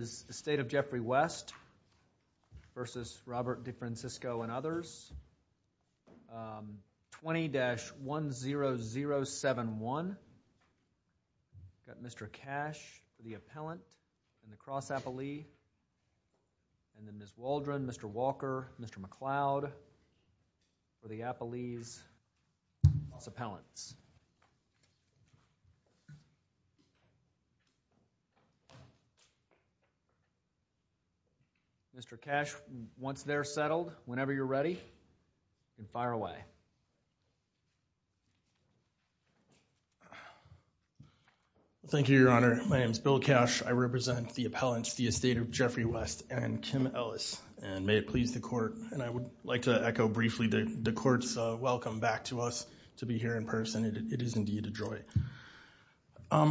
and others, 20-10071. We've got Mr. Cash, the appellant, and the cross-appellee, and then Ms. Waldron, Mr. Walker, Mr. McLeod for the appellees, cross-appellants. Mr. Cash, once they're settled, whenever you're ready, you can fire away. Thank you, Your Honor. My name is Bill Cash. I represent the appellants, the estate of Jeffrey West and Kim Ellis. And may it please the court, and I would like to echo briefly the court's welcome back to us to be here in person. It is indeed a joy.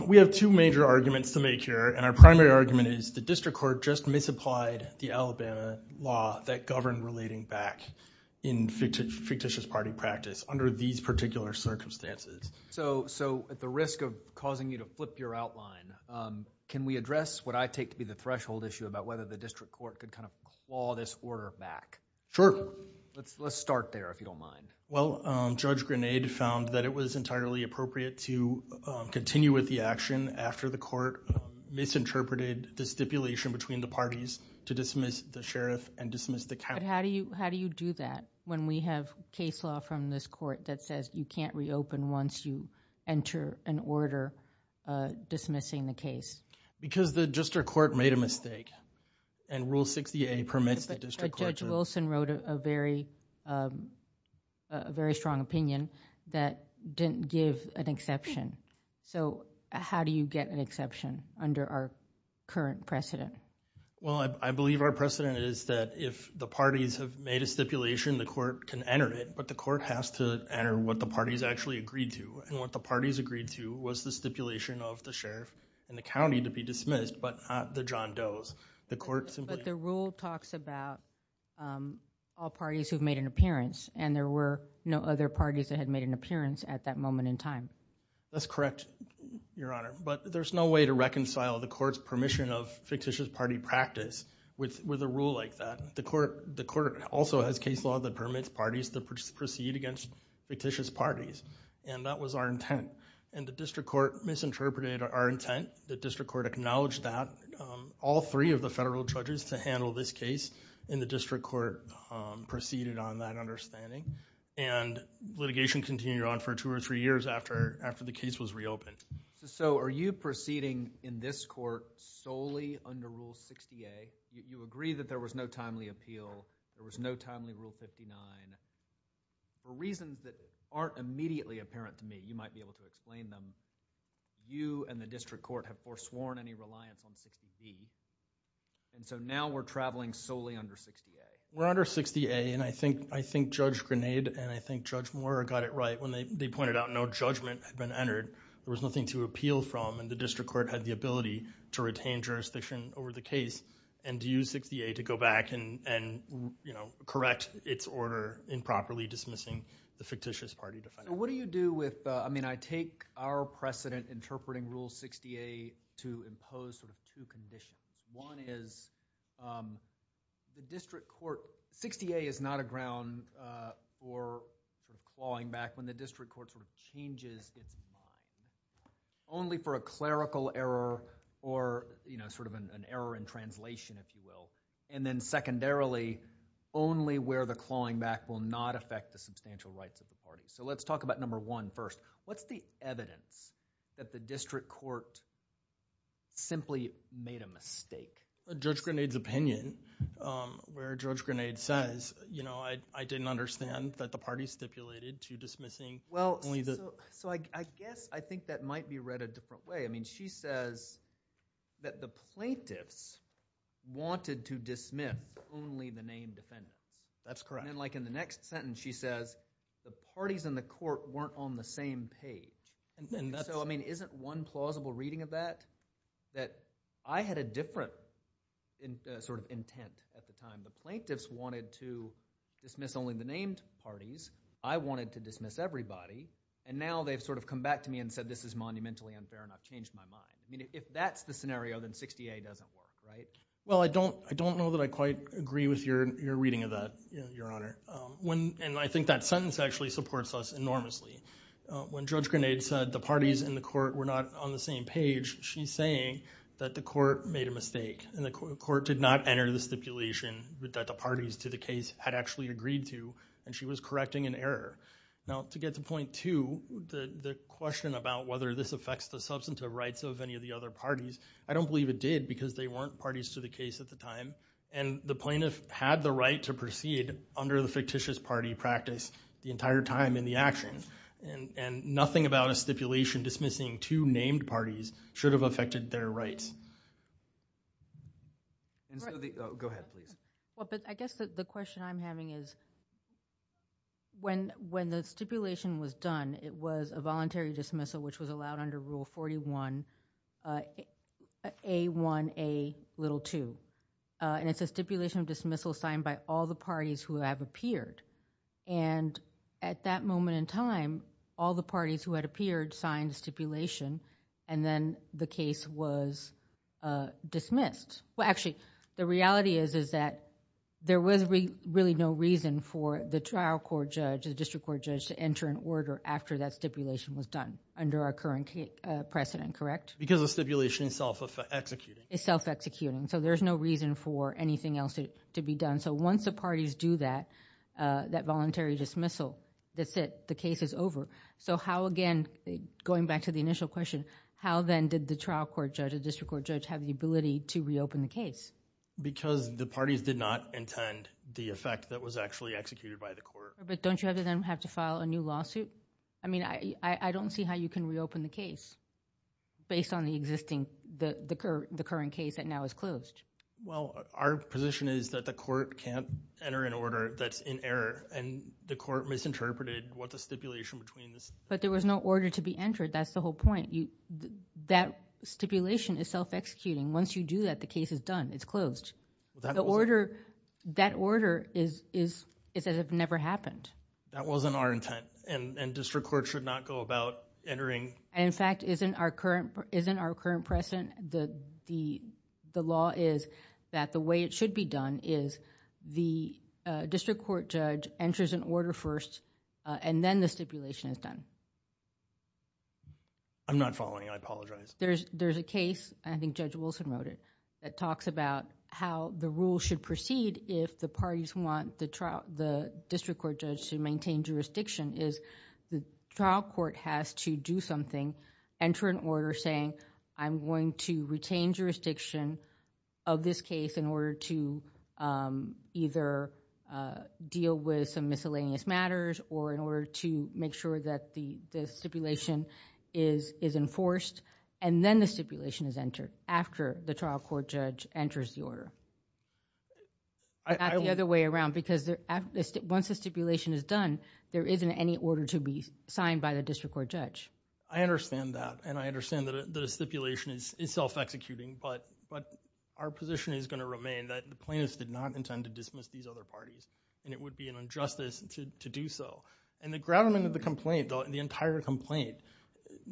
We have two major arguments to make here, and our primary argument is the district court just misapplied the Alabama law that governed relating back in fictitious party practice under these particular circumstances. So at the risk of causing you to flip your outline, can we address what I take to be the threshold issue about whether the district court could kind of claw this order back? Sure. Let's start there, if you don't mind. Well, Judge Grenade found that it was entirely appropriate to continue with the action after the court misinterpreted the stipulation between the parties to dismiss the sheriff and dismiss the county. But how do you do that when we have case law from this court that says you can't reopen once you enter an order dismissing the case? Because the district court made a mistake, and Rule 60A permits the district court to But Judge Wilson wrote a very strong opinion that didn't give an exception. So how do you get an exception under our current precedent? Well, I believe our precedent is that if the parties have made a stipulation, the court can enter it. But the court has to enter what the parties actually agreed to. And what the parties agreed to was the stipulation of the sheriff and the county to be dismissed, but not the John Does. But the rule talks about all parties who've made an appearance, and there were no other parties that had made an appearance at that moment in time. That's correct, Your Honor. But there's no way to reconcile the court's permission of fictitious party practice with a rule like that. The court also has case law that permits parties to proceed against fictitious parties. And that was our intent. And the district court misinterpreted our intent. The district court acknowledged that. All three of the federal judges to handle this case in the district court proceeded on that understanding. And litigation continued on for two or three years after the case was reopened. So are you proceeding in this court solely under Rule 60A? You agree that there was no timely appeal. There was no timely Rule 59. For reasons that aren't immediately apparent to me, you might be able to explain them, you and the district court have forsworn any reliance on 60B. And so now we're traveling solely under 60A. We're under 60A, and I think Judge Grenade and I think Judge Moore got it right when they pointed out no judgment had been entered. There was nothing to appeal from, and the district court had the ability to retain jurisdiction over the case and use 60A to go back and correct its order in properly dismissing the fictitious party. What do you do with – I mean I take our precedent interpreting Rule 60A to impose sort of two conditions. One is the district court – 60A is not a ground for clawing back when the district court sort of changes its mind. Only for a clerical error or sort of an error in translation, if you will. And then secondarily, only where the clawing back will not affect the substantial rights of the party. So let's talk about number one first. What's the evidence that the district court simply made a mistake? Judge Grenade's opinion, where Judge Grenade says, you know, I didn't understand that the party stipulated to dismissing only the – So I guess I think that might be read a different way. I mean she says that the plaintiffs wanted to dismiss only the named defendants. That's correct. And then like in the next sentence she says the parties in the court weren't on the same page. And so I mean isn't one plausible reading of that that I had a different sort of intent at the time. The plaintiffs wanted to dismiss only the named parties. I wanted to dismiss everybody. And now they've sort of come back to me and said this is monumentally unfair and I've changed my mind. I mean if that's the scenario, then 60A doesn't work, right? Well, I don't know that I quite agree with your reading of that, Your Honor. And I think that sentence actually supports us enormously. When Judge Grenade said the parties in the court were not on the same page, she's saying that the court made a mistake and the court did not enter the stipulation that the parties to the case had actually agreed to. And she was correcting an error. Now to get to point two, the question about whether this affects the substantive rights of any of the other parties, I don't believe it did because they weren't parties to the case at the time. And the plaintiff had the right to proceed under the fictitious party practice the entire time in the action. And nothing about a stipulation dismissing two named parties should have affected their rights. Go ahead, please. Well, but I guess the question I'm having is when the stipulation was done, it was a voluntary dismissal which was allowed under Rule 41A1A2. And it's a stipulation of dismissal signed by all the parties who have appeared. And at that moment in time, all the parties who had appeared signed the stipulation and then the case was dismissed. Well, actually, the reality is that there was really no reason for the trial court judge, the district court judge to enter an order after that stipulation was done under our current precedent, correct? Because the stipulation is self-executing. It's self-executing. So there's no reason for anything else to be done. So once the parties do that, that voluntary dismissal, that's it. The case is over. So how again, going back to the initial question, how then did the trial court judge or district court judge have the ability to reopen the case? Because the parties did not intend the effect that was actually executed by the court. But don't you have to then have to file a new lawsuit? I mean, I don't see how you can reopen the case based on the existing, the current case that now is closed. Well, our position is that the court can't enter an order that's in error and the court misinterpreted what the stipulation between the... That stipulation is self-executing. Once you do that, the case is done. It's closed. The order... That order is as if it never happened. That wasn't our intent and district court should not go about entering... In fact, isn't our current precedent, the law is that the way it should be done is the district court judge enters an order first and then the stipulation is done. I'm not following. I apologize. There's a case, I think Judge Wilson wrote it, that talks about how the rule should proceed if the parties want the district court judge to maintain jurisdiction. The trial court has to do something, enter an order saying, I'm going to retain jurisdiction of this case in order to either deal with some miscellaneous matters or in order to make sure that the stipulation is enforced and then the stipulation is entered after the trial court judge enters the order. The other way around because once the stipulation is done, there isn't any order to be signed by the district court judge. I understand that and I understand that the stipulation is self-executing but our position is going to remain that the plaintiffs did not intend to dismiss these other parties and it would be an injustice to do so. The grounder of the complaint, the entire complaint,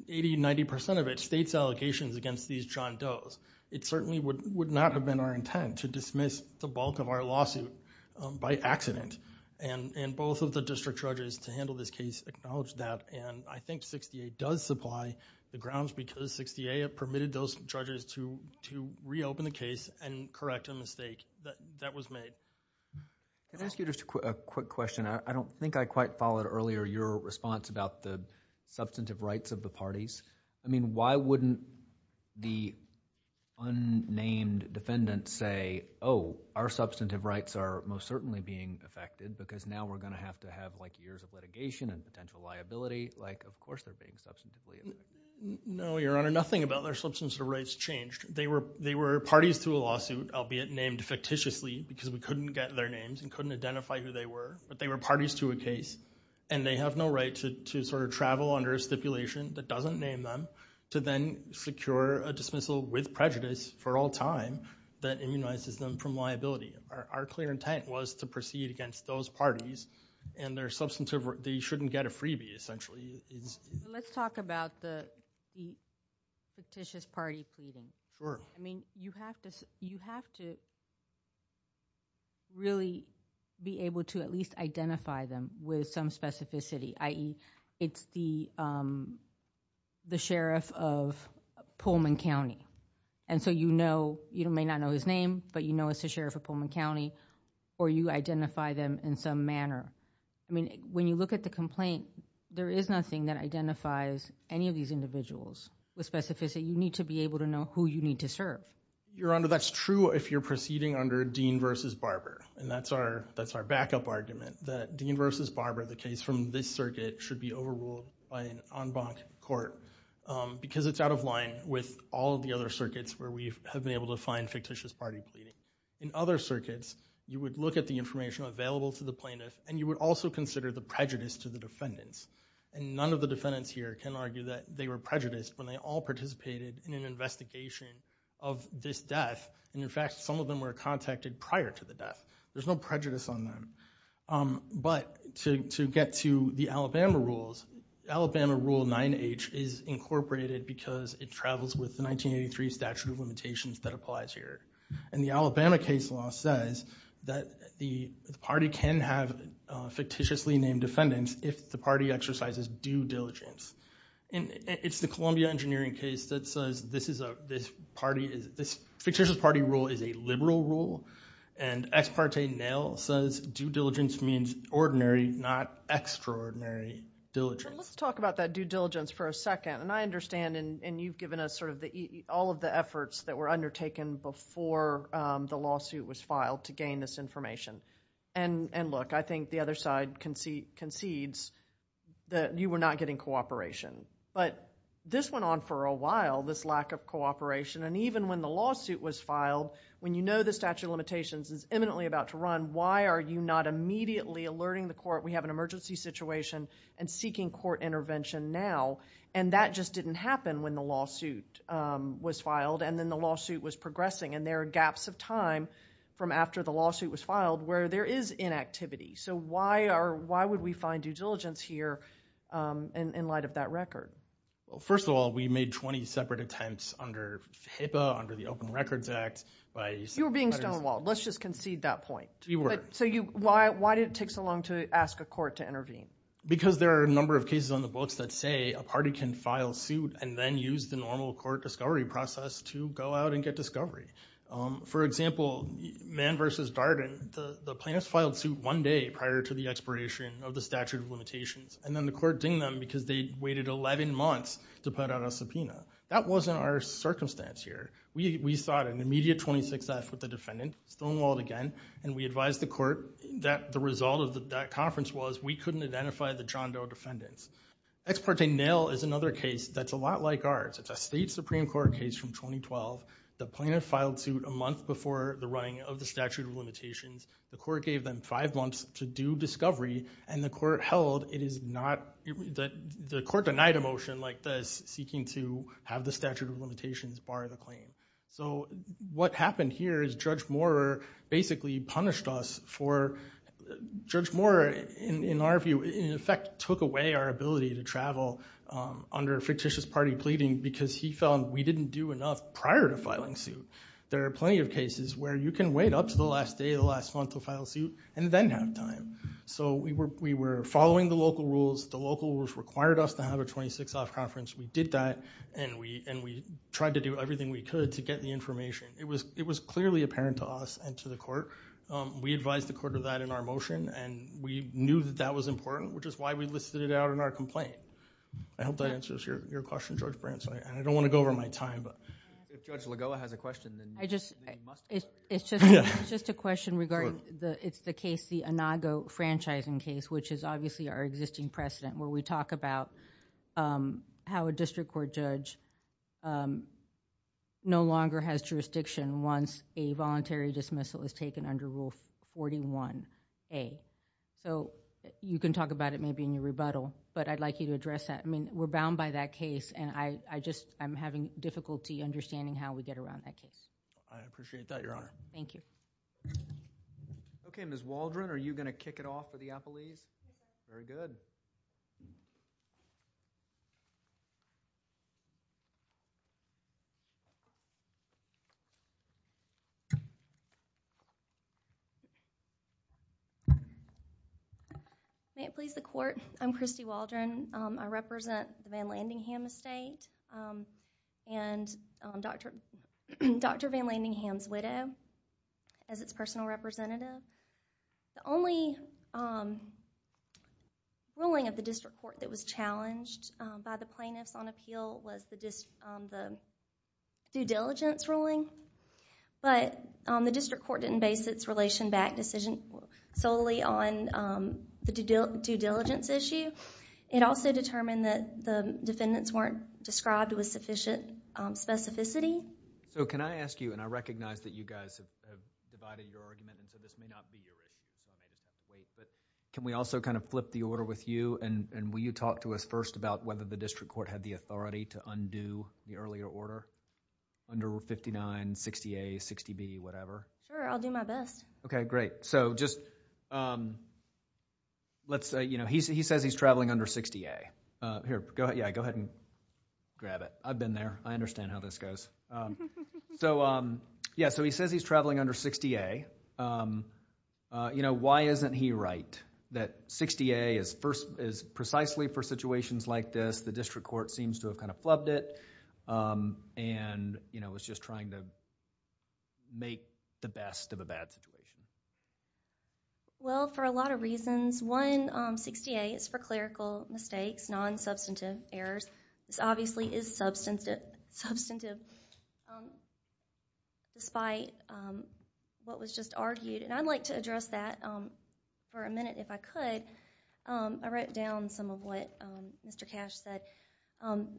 80-90% of it, states allegations against these John Does. It certainly would not have been our intent to dismiss the bulk of our lawsuit by accident and both of the district judges to handle this case acknowledge that and I think 68 does supply the grounds because 68 permitted those judges to reopen the case and correct a mistake that was made. Can I ask you just a quick question? I don't think I quite followed earlier your response about the substantive rights of the parties. I mean why wouldn't the unnamed defendant say, oh, our substantive rights are most certainly being affected because now we're going to have to have like years of litigation and potential liability, like of course they're being substantively. No, Your Honor, nothing about their substantive rights changed. They were parties to a lawsuit, albeit named fictitiously because we couldn't get their names and couldn't identify who they were, but they were parties to a case and they have no right to sort of travel under a stipulation that doesn't name them to then secure a dismissal with prejudice for all time that immunizes them from liability. Our clear intent was to proceed against those parties and their substantive rights, they shouldn't get a freebie essentially. Let's talk about the fictitious party pleading. Sure. I mean you have to really be able to at least identify them with some specificity, i.e. it's the sheriff of Pullman County and so you may not know his name, but you know it's the sheriff of Pullman County or you identify them in some manner. I mean when you look at the complaint, there is nothing that identifies any of these individuals with specificity. You need to be able to know who you need to serve. Your Honor, that's true if you're proceeding under Dean v. Barber and that's our backup argument that Dean v. Barber, the case from this circuit, should be overruled by an en banc court because it's out of line with all of the other circuits where we have been able to find fictitious party pleading. In other circuits, you would look at the information available to the plaintiff and you would also consider the prejudice to the defendants and none of the defendants here can argue that they were prejudiced when they all participated in an investigation of this death and in fact some of them were contacted prior to the death. There's no prejudice on them. But to get to the Alabama rules, Alabama Rule 9H is incorporated because it travels with the 1983 statute of limitations that applies here and the Alabama case law says that the party can have fictitiously named defendants if the party exercises due diligence. It's the Columbia engineering case that says this fictitious party rule is a liberal rule and ex parte nail says due diligence means ordinary, not extraordinary diligence. Let's talk about that due diligence for a second and I understand and you've given us sort of all of the efforts that were undertaken before the lawsuit was filed to gain this information and look, I think the other side concedes that you were not getting cooperation but this went on for a while, this lack of cooperation and even when the lawsuit was filed, when you know the statute of limitations is imminently about to run, why are you not immediately alerting the court we have an emergency situation and seeking court intervention now and that just didn't happen when the lawsuit was filed and then the lawsuit was progressing and there are gaps of time from after the lawsuit was filed where there is inactivity. So why would we find due diligence here in light of that record? First of all, we made 20 separate attempts under HIPAA, under the Open Records Act. You were being stonewalled, let's just concede that point. We were. So why did it take so long to ask a court to intervene? Because there are a number of cases on the books that say a party can file suit and then use the normal court discovery process to go out and get discovery. For example, Mann v. Darden, the plaintiffs filed suit one day prior to the expiration of the statute of limitations and then the court dinged them because they'd waited 11 months to put out a subpoena. That wasn't our circumstance here. We sought an immediate 26-F with the defendant, stonewalled again, and we advised the court that the result of that conference was we couldn't identify the John Doe defendants. Ex parte nil is another case that's a lot like ours. It's a state Supreme Court case from 2012. The plaintiff filed suit a month before the running of the statute of limitations. The court gave them five months to do discovery, and the court held it is not – the court denied a motion like this, seeking to have the statute of limitations bar the claim. So what happened here is Judge Moorer basically punished us for – in our view, in effect, took away our ability to travel under fictitious party pleading because he found we didn't do enough prior to filing suit. There are plenty of cases where you can wait up to the last day of the last month to file suit and then have time. So we were following the local rules. The local rules required us to have a 26-F conference. We did that, and we tried to do everything we could to get the information. It was clearly apparent to us and to the court. We advised the court of that in our motion, and we knew that that was important, which is why we listed it out in our complaint. I hope that answers your question, George Branson. I don't want to go over my time. If Judge Lagoa has a question, then you must. It's just a question regarding – it's the case, the Inago franchising case, which is obviously our existing precedent where we talk about how a district court judge no longer has jurisdiction once a voluntary dismissal is taken under Rule 41A. You can talk about it maybe in your rebuttal, but I'd like you to address that. We're bound by that case, and I'm having difficulty understanding how we get around that case. I appreciate that, Your Honor. Thank you. Okay, Ms. Waldron, are you going to kick it off for the appellees? Very good. May it please the court, I'm Christy Waldron. I represent the Van Landingham Estate and Dr. Van Landingham's widow as its personal representative. The only ruling of the district court that was challenged by the plaintiffs on appeal was the due diligence ruling, but the district court didn't base its relation-backed decision solely on the due diligence issue. It also determined that the defendants weren't described with sufficient specificity. So, can I ask you, and I recognize that you guys have divided your argument, and so this may not be your issue. Can we also kind of flip the order with you, and will you talk to us first about whether the district court had the authority to undo the earlier order under Rule 59, 60A, 60B, whatever? Sure, I'll do my best. Okay, great. He says he's traveling under 60A. Yeah, go ahead and grab it. I've been there. I understand how this goes. Yeah, so he says he's traveling under 60A. Why isn't he right that 60A is precisely for situations like this? The district court seems to have kind of flubbed it and was just trying to make the best of a bad situation. Well, for a lot of reasons. One, 60A is for clerical mistakes, non-substantive errors. This obviously is substantive despite what was just argued, and I'd like to address that for a minute if I could. I wrote down some of what Mr. Cash said,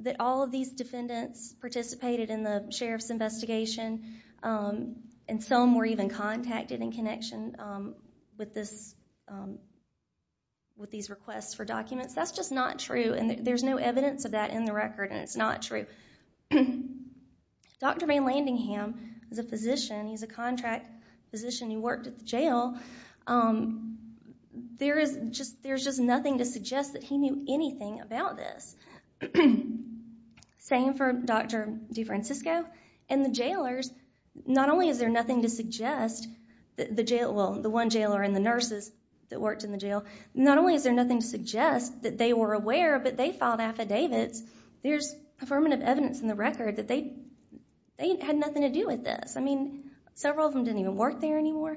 that all of these defendants participated in the sheriff's investigation and some were even contacted in connection with these requests for documents. That's just not true, and there's no evidence of that in the record, and it's not true. Dr. Van Landingham is a physician. He's a contract physician who worked at the jail. There's just nothing to suggest that he knew anything about this. Same for Dr. DeFrancisco and the jailers. Not only is there nothing to suggest that the jailer, well, the one jailer and the nurses that worked in the jail, not only is there nothing to suggest that they were aware, but they filed affidavits. There's affirmative evidence in the record that they had nothing to do with this. I mean, several of them didn't even work there anymore.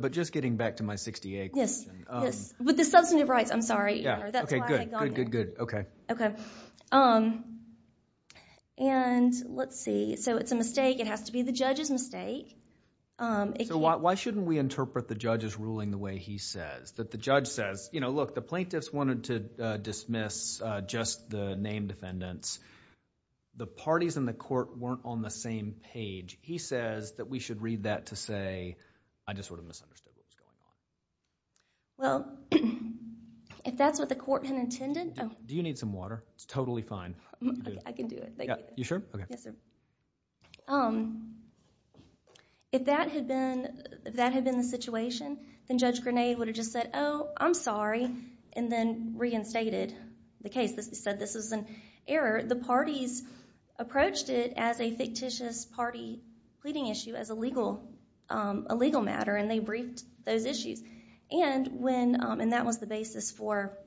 But just getting back to my 60A question. Yes, yes. With the substantive rights, I'm sorry. Okay, good, good, good, okay. Let's see. So it's a mistake. It has to be the judge's mistake. So why shouldn't we interpret the judge's ruling the way he says? That the judge says, you know, look, the plaintiffs wanted to dismiss just the name defendants. The parties in the court weren't on the same page. He says that we should read that to say, I just sort of misunderstood what was going on. Well, if that's what the court had intended. Do you need some water? It's totally fine. I can do it. You sure? Yes, sir. If that had been the situation, then Judge Grenade would have just said, oh, I'm sorry, and then reinstated the case. He said this was an error. The parties approached it as a fictitious party pleading issue, as a legal matter, and they briefed those issues. And that was the basis for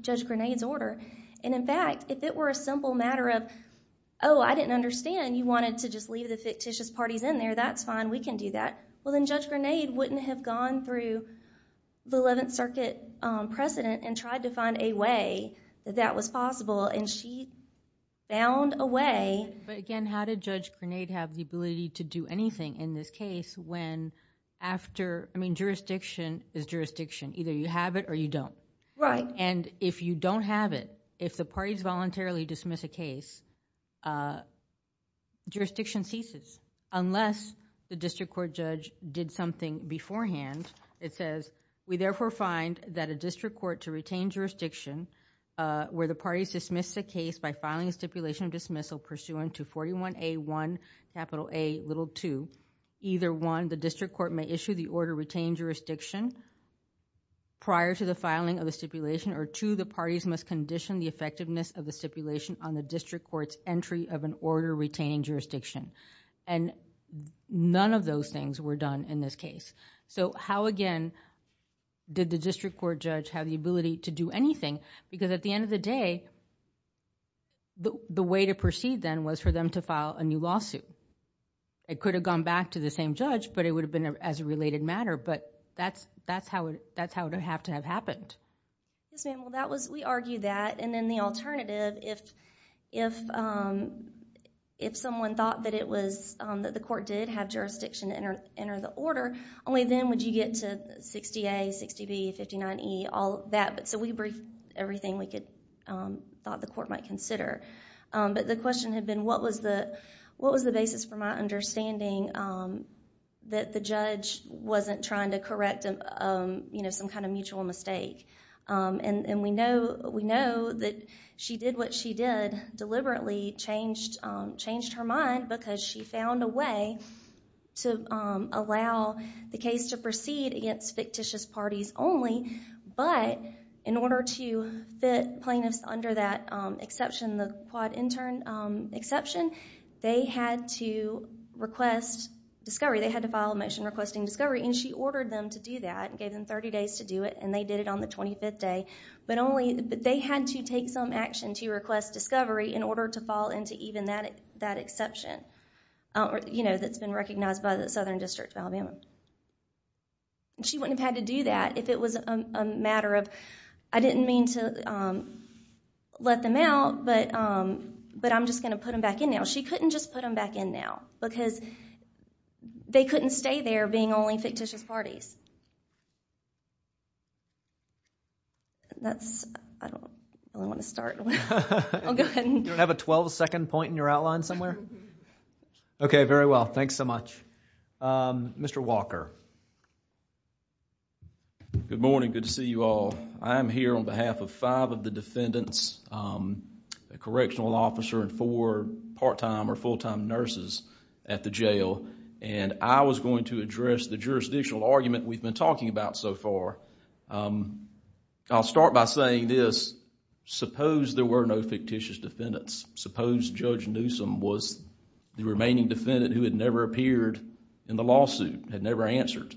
Judge Grenade's order. And, in fact, if it were a simple matter of, oh, I didn't understand, and you wanted to just leave the fictitious parties in there, that's fine. We can do that. Well, then Judge Grenade wouldn't have gone through the Eleventh Circuit precedent and tried to find a way that that was possible, and she found a way. But, again, how did Judge Grenade have the ability to do anything in this case when after – I mean, jurisdiction is jurisdiction. Either you have it or you don't. Right. And if you don't have it, if the parties voluntarily dismiss a case, jurisdiction ceases unless the district court judge did something beforehand. It says, we therefore find that a district court to retain jurisdiction where the parties dismiss the case by filing a stipulation of dismissal pursuant to 41A1 capital A little 2, either one, the district court may issue the order to retain jurisdiction prior to the filing of the stipulation, or two, the parties must condition the effectiveness of the stipulation on the district court's entry of an order retaining jurisdiction. And none of those things were done in this case. So how, again, did the district court judge have the ability to do anything? Because at the end of the day, the way to proceed then was for them to file a new lawsuit. It could have gone back to the same judge, but it would have been as a related matter. But that's how it would have to have happened. Yes, ma'am. Well, we argue that, and then the alternative, if someone thought that the court did have jurisdiction to enter the order, only then would you get to 60A, 60B, 59E, all of that. So we briefed everything we thought the court might consider. But the question had been, what was the basis for my understanding that the judge wasn't trying to correct some kind of mutual mistake? And we know that she did what she did, deliberately changed her mind because she found a way to allow the case to proceed against fictitious parties only, but in order to fit plaintiffs under that exception, the quad intern exception, they had to request discovery. They had to file a motion requesting discovery, and she ordered them to do that and gave them 30 days to do it, and they did it on the 25th day. But they had to take some action to request discovery in order to fall into even that exception that's been recognized by the Southern District of Alabama. She wouldn't have had to do that if it was a matter of, I didn't mean to let them out, but I'm just going to put them back in now. She couldn't just put them back in now because they couldn't stay there being only fictitious parties. I don't want to start. I'll go ahead. Do you have a 12-second point in your outline somewhere? Okay, very well. Thanks so much. Mr. Walker. Good morning. Good to see you all. I'm here on behalf of five of the defendants, a correctional officer and four part-time or full-time nurses at the jail, and I was going to address the jurisdictional argument we've been talking about so far. I'll start by saying this. Suppose there were no fictitious defendants. Suppose Judge Newsom was the remaining defendant who had never appeared in the lawsuit, had never answered,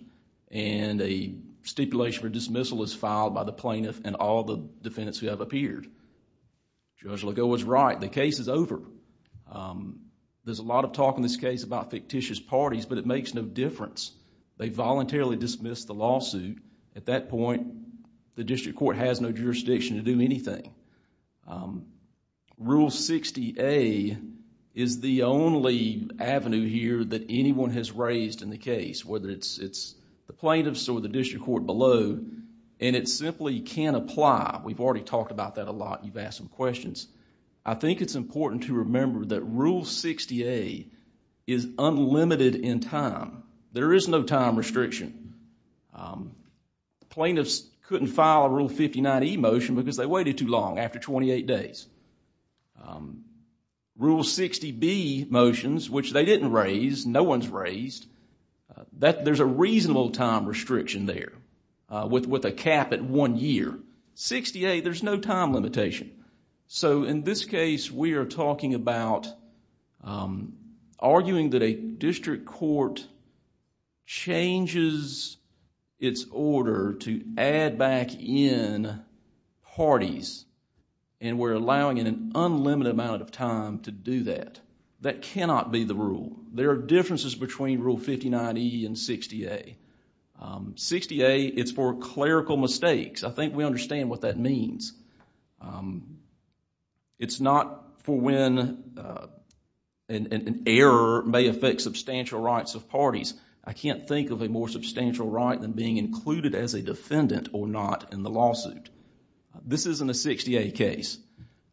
and a stipulation for dismissal is filed by the plaintiff and all the defendants who have appeared. Judge Legault was right. The case is over. There's a lot of talk in this case about fictitious parties, but it makes no difference. They voluntarily dismissed the lawsuit. At that point, the district court has no jurisdiction to do anything. Rule 60A is the only avenue here that anyone has raised in the case, whether it's the plaintiffs or the district court below, and it simply can't apply. We've already talked about that a lot. You've asked some questions. I think it's important to remember that Rule 60A is unlimited in time. There is no time restriction. Plaintiffs couldn't file a Rule 59E motion because they waited too long after 28 days. Rule 60B motions, which they didn't raise, no one's raised, there's a reasonable time restriction there with a cap at one year. 60A, there's no time limitation. In this case, we are talking about arguing that a district court changes its order to add back in parties, and we're allowing it an unlimited amount of time to do that. That cannot be the rule. There are differences between Rule 59E and 60A. 60A, it's for clerical mistakes. I think we understand what that means. It's not for when an error may affect substantial rights of parties. I can't think of a more substantial right than being included as a defendant or not in the lawsuit. This isn't a 60A case.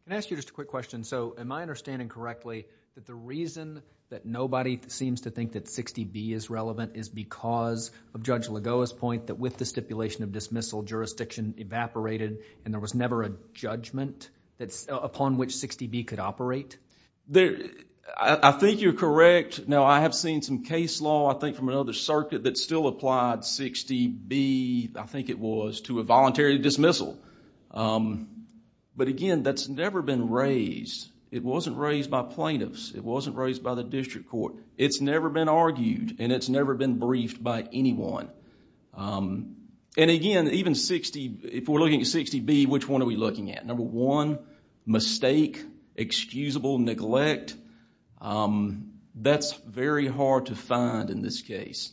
Can I ask you just a quick question? Am I understanding correctly that the reason that nobody seems to think that 60B is relevant is because of Judge Lagoa's point that with the stipulation of dismissal, jurisdiction evaporated, and there was never a judgment upon which 60B could operate? I think you're correct. Now, I have seen some case law, I think from another circuit, that still applied 60B, I think it was, to a voluntary dismissal. But again, that's never been raised. It wasn't raised by plaintiffs. It wasn't raised by the district court. It's never been argued, and it's never been briefed by anyone. Again, if we're looking at 60B, which one are we looking at? Number one, mistake, excusable neglect. That's very hard to find in this case.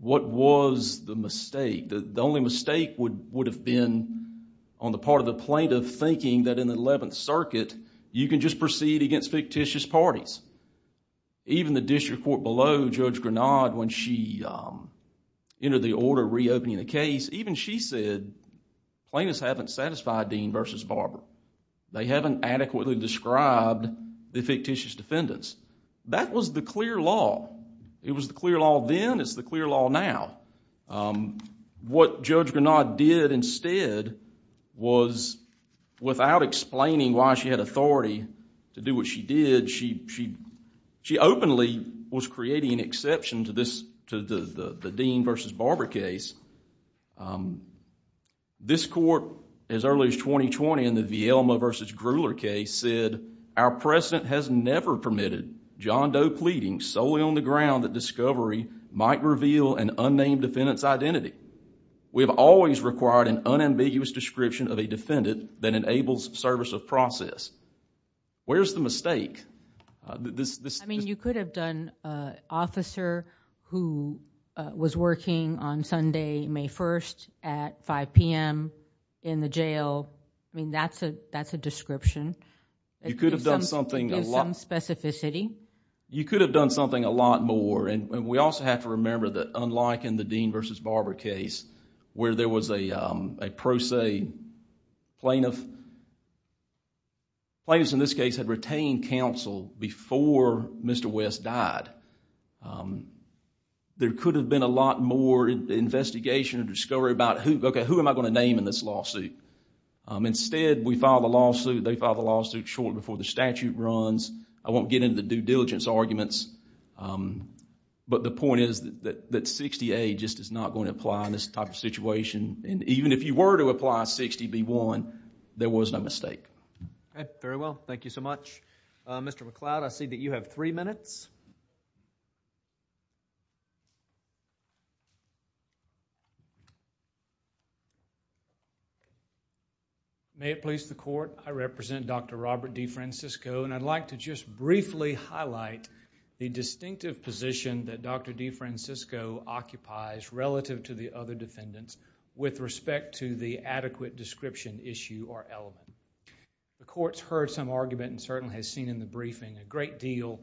What was the mistake? The only mistake would have been on the part of the plaintiff thinking that in the Eleventh Circuit, you can just proceed against fictitious parties. Even the district court below Judge Grenard, when she entered the order reopening the case, even she said, plaintiffs haven't satisfied Dean versus Barber. They haven't adequately described the fictitious defendants. That was the clear law. It was the clear law then, it's the clear law now. What Judge Grenard did instead was, without explaining why she had authority to do what she did, she openly was creating an exception to the Dean versus Barber case. This court, as early as 2020 in the Villalma versus Grueler case said, our precedent has never permitted John Doe pleading solely on the ground that discovery might reveal an unnamed defendant's identity. We have always required an unambiguous description of a defendant that enables service of process. Where's the mistake? I mean, you could have done an officer who was working on Sunday, May 1st at 5 p.m. in the jail. I mean, that's a description. You could have done something... It gives some specificity. You could have done something a lot more. We also have to remember that unlike in the Dean versus Barber case, where there was a pro se plaintiff, plaintiffs in this case had retained counsel before Mr. West died. There could have been a lot more investigation and discovery about, okay, who am I going to name in this lawsuit? Instead, we filed a lawsuit, they filed a lawsuit shortly before the statute runs. I won't get into the due diligence arguments, but the point is that 60A just is not going to apply in this type of situation. Even if you were to apply 60B1, there was no mistake. Okay, very well. Thank you so much. Mr. McCloud, I see that you have three minutes. May it please the court. I represent Dr. Robert DeFrancisco, and I'd like to just briefly highlight the distinctive position that Dr. DeFrancisco occupies relative to the other defendants with respect to the adequate description issue or element. The court's heard some argument and certainly has seen in the briefing a great deal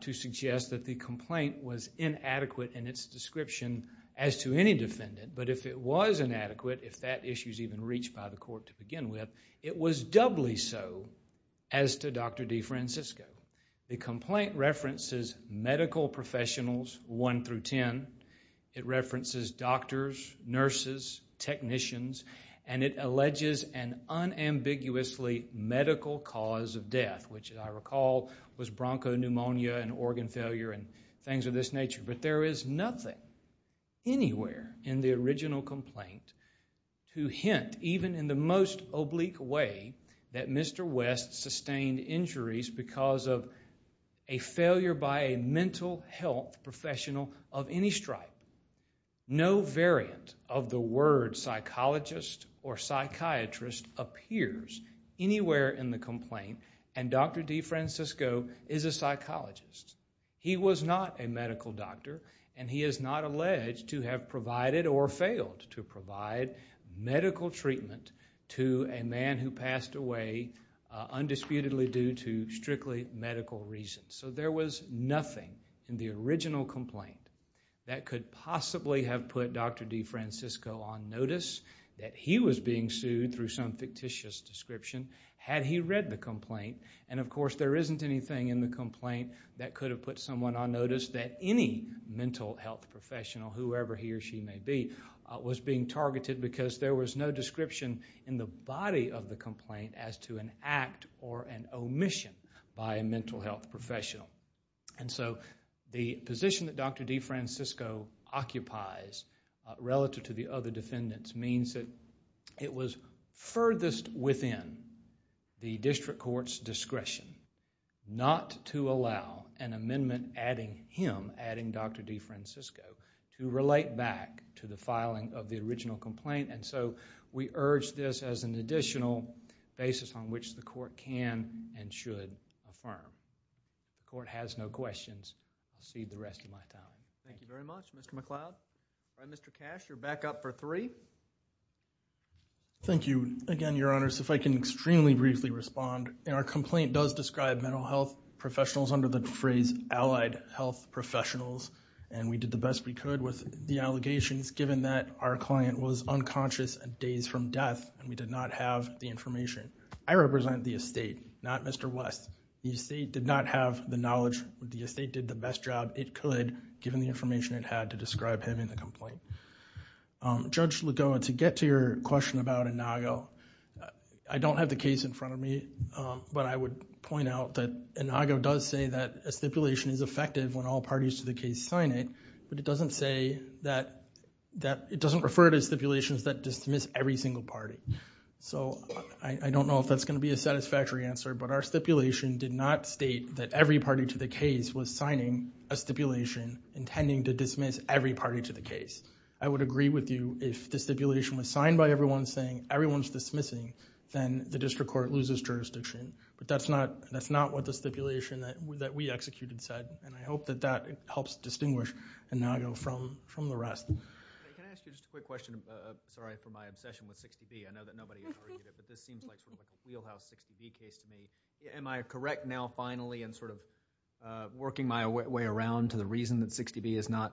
to suggest that the complaint was inadequate in its description as to any defendant, but if it was inadequate, if that issue is even reached by the court to begin with, it was doubly so as to Dr. DeFrancisco. The complaint references medical professionals 1 through 10. It references doctors, nurses, technicians, and it alleges an unambiguously medical cause of death, which I recall was bronchopneumonia and organ failure and things of this nature, but there is nothing anywhere in the original complaint to hint, even in the most oblique way, that Mr. West sustained injuries because of a failure by a mental health professional of any stripe. No variant of the word psychologist or psychiatrist appears anywhere in the complaint, and Dr. DeFrancisco is a psychologist. He was not a medical doctor, and he is not alleged to have provided or failed to provide medical treatment to a man who passed away undisputedly due to strictly medical reasons, so there was nothing in the original complaint that could possibly have put Dr. DeFrancisco on notice that he was being sued through some fictitious description had he read the complaint, and of course there isn't anything in the complaint that could have put someone on notice that any mental health professional, whoever he or she may be, was being targeted because there was no description in the body of the complaint as to an act or an omission by a mental health professional, and so the position that Dr. DeFrancisco occupies relative to the other defendants means that it was furthest within the district court's discretion not to allow an amendment adding him, adding Dr. DeFrancisco, to relate back to the filing of the original complaint, and so we urge this as an additional basis on which the court can and should affirm. The court has no questions. I'll cede the rest of my time. Thank you very much, Mr. McCloud. All right, Mr. Cash, you're back up for three. Thank you again, Your Honors. If I can extremely briefly respond, our complaint does describe mental health professionals under the phrase allied health professionals, and we did the best we could with the allegations given that our client was unconscious days from death and we did not have the information. I represent the estate, not Mr. West. The estate did not have the knowledge. The estate did the best job it could given the information it had to describe him in the complaint. Judge Lagoa, to get to your question about Inago, I don't have the case in front of me, but I would point out that Inago does say that a stipulation is effective when all parties to the case sign it, but it doesn't refer to stipulations that dismiss every single party. So I don't know if that's going to be a satisfactory answer, but our stipulation did not state that every party to the case was signing a stipulation intending to dismiss every party to the case. I would agree with you if the stipulation was signed by everyone saying everyone's dismissing, then the district court loses jurisdiction, but that's not what the stipulation that we executed said, and I hope that that helps distinguish Inago from the rest. Can I ask you just a quick question? Sorry for my obsession with 60B. I know that nobody ever did it, but this seems like sort of like a wheelhouse 60B case to me. Am I correct now finally in sort of working my way around to the reason that 60B is not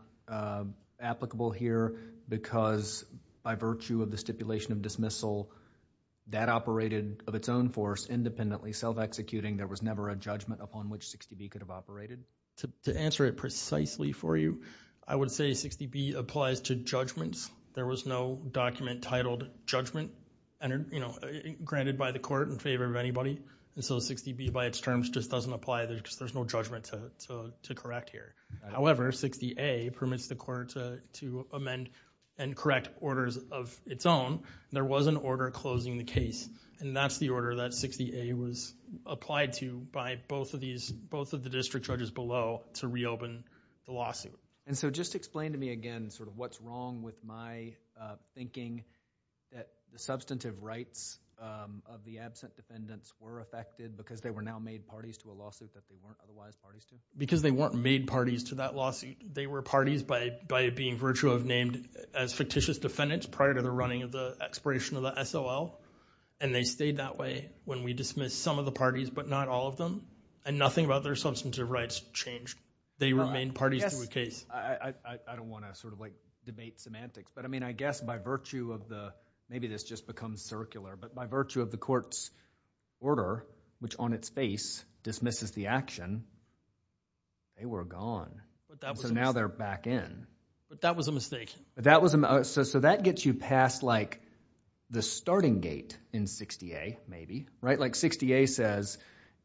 applicable here because by virtue of the stipulation of dismissal that operated of its own force independently self-executing, there was never a judgment upon which 60B could have operated? To answer it precisely for you, I would say 60B applies to judgments. There was no document titled judgment granted by the court in favor of anybody, and so 60B by its terms just doesn't apply because there's no judgment to correct here. However, 60A permits the court to amend and correct orders of its own. There was an order closing the case, and that's the order that 60A was applied to by both of the district judges below to reopen the lawsuit. And so just explain to me again sort of what's wrong with my thinking that the substantive rights of the absent defendants were affected because they were now made parties to a lawsuit that they weren't otherwise parties to? Because they weren't made parties to that lawsuit, they were parties by being virtue of named as fictitious defendants prior to the running of the expiration of the SOL, and they stayed that way when we dismissed some of the parties but not all of them, and nothing about their substantive rights changed. They remained parties to a case. I don't want to sort of like debate semantics, but I mean I guess by virtue of the— maybe this just becomes circular, but by virtue of the court's order, which on its face dismisses the action, they were gone. So now they're back in. But that was a mistake. So that gets you past like the starting gate in 60A maybe, right? Like 60A says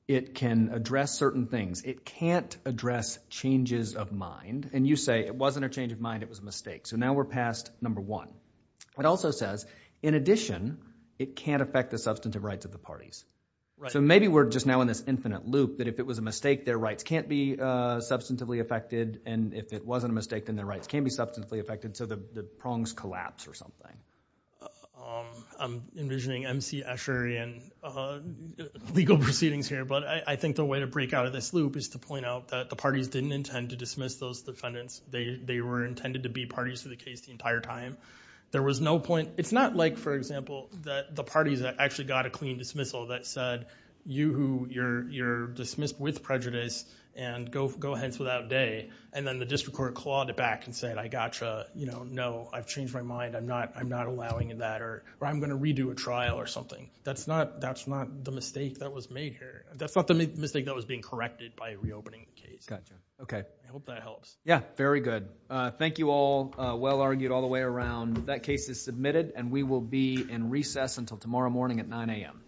it can address certain things. It can't address changes of mind, and you say it wasn't a change of mind, it was a mistake. So now we're past number one. It also says in addition, it can't affect the substantive rights of the parties. So maybe we're just now in this infinite loop that if it was a mistake, their rights can't be substantively affected, and if it wasn't a mistake, then their rights can be substantively affected so the prongs collapse or something. I'm envisioning M.C. Escher and legal proceedings here, but I think the way to break out of this loop is to point out that the parties didn't intend to dismiss those defendants. They were intended to be parties to the case the entire time. There was no point— it's not like, for example, that the parties actually got a clean dismissal, that said, you who—you're dismissed with prejudice, and go hence without day, and then the district court clawed it back and said, I gotcha, you know, no, I've changed my mind, I'm not allowing that, or I'm going to redo a trial or something. That's not the mistake that was made here. That's not the mistake that was being corrected by reopening the case. I hope that helps. Yeah, very good. Thank you all. Well argued all the way around. That case is submitted, and we will be in recess until tomorrow morning at 9 a.m. All rise.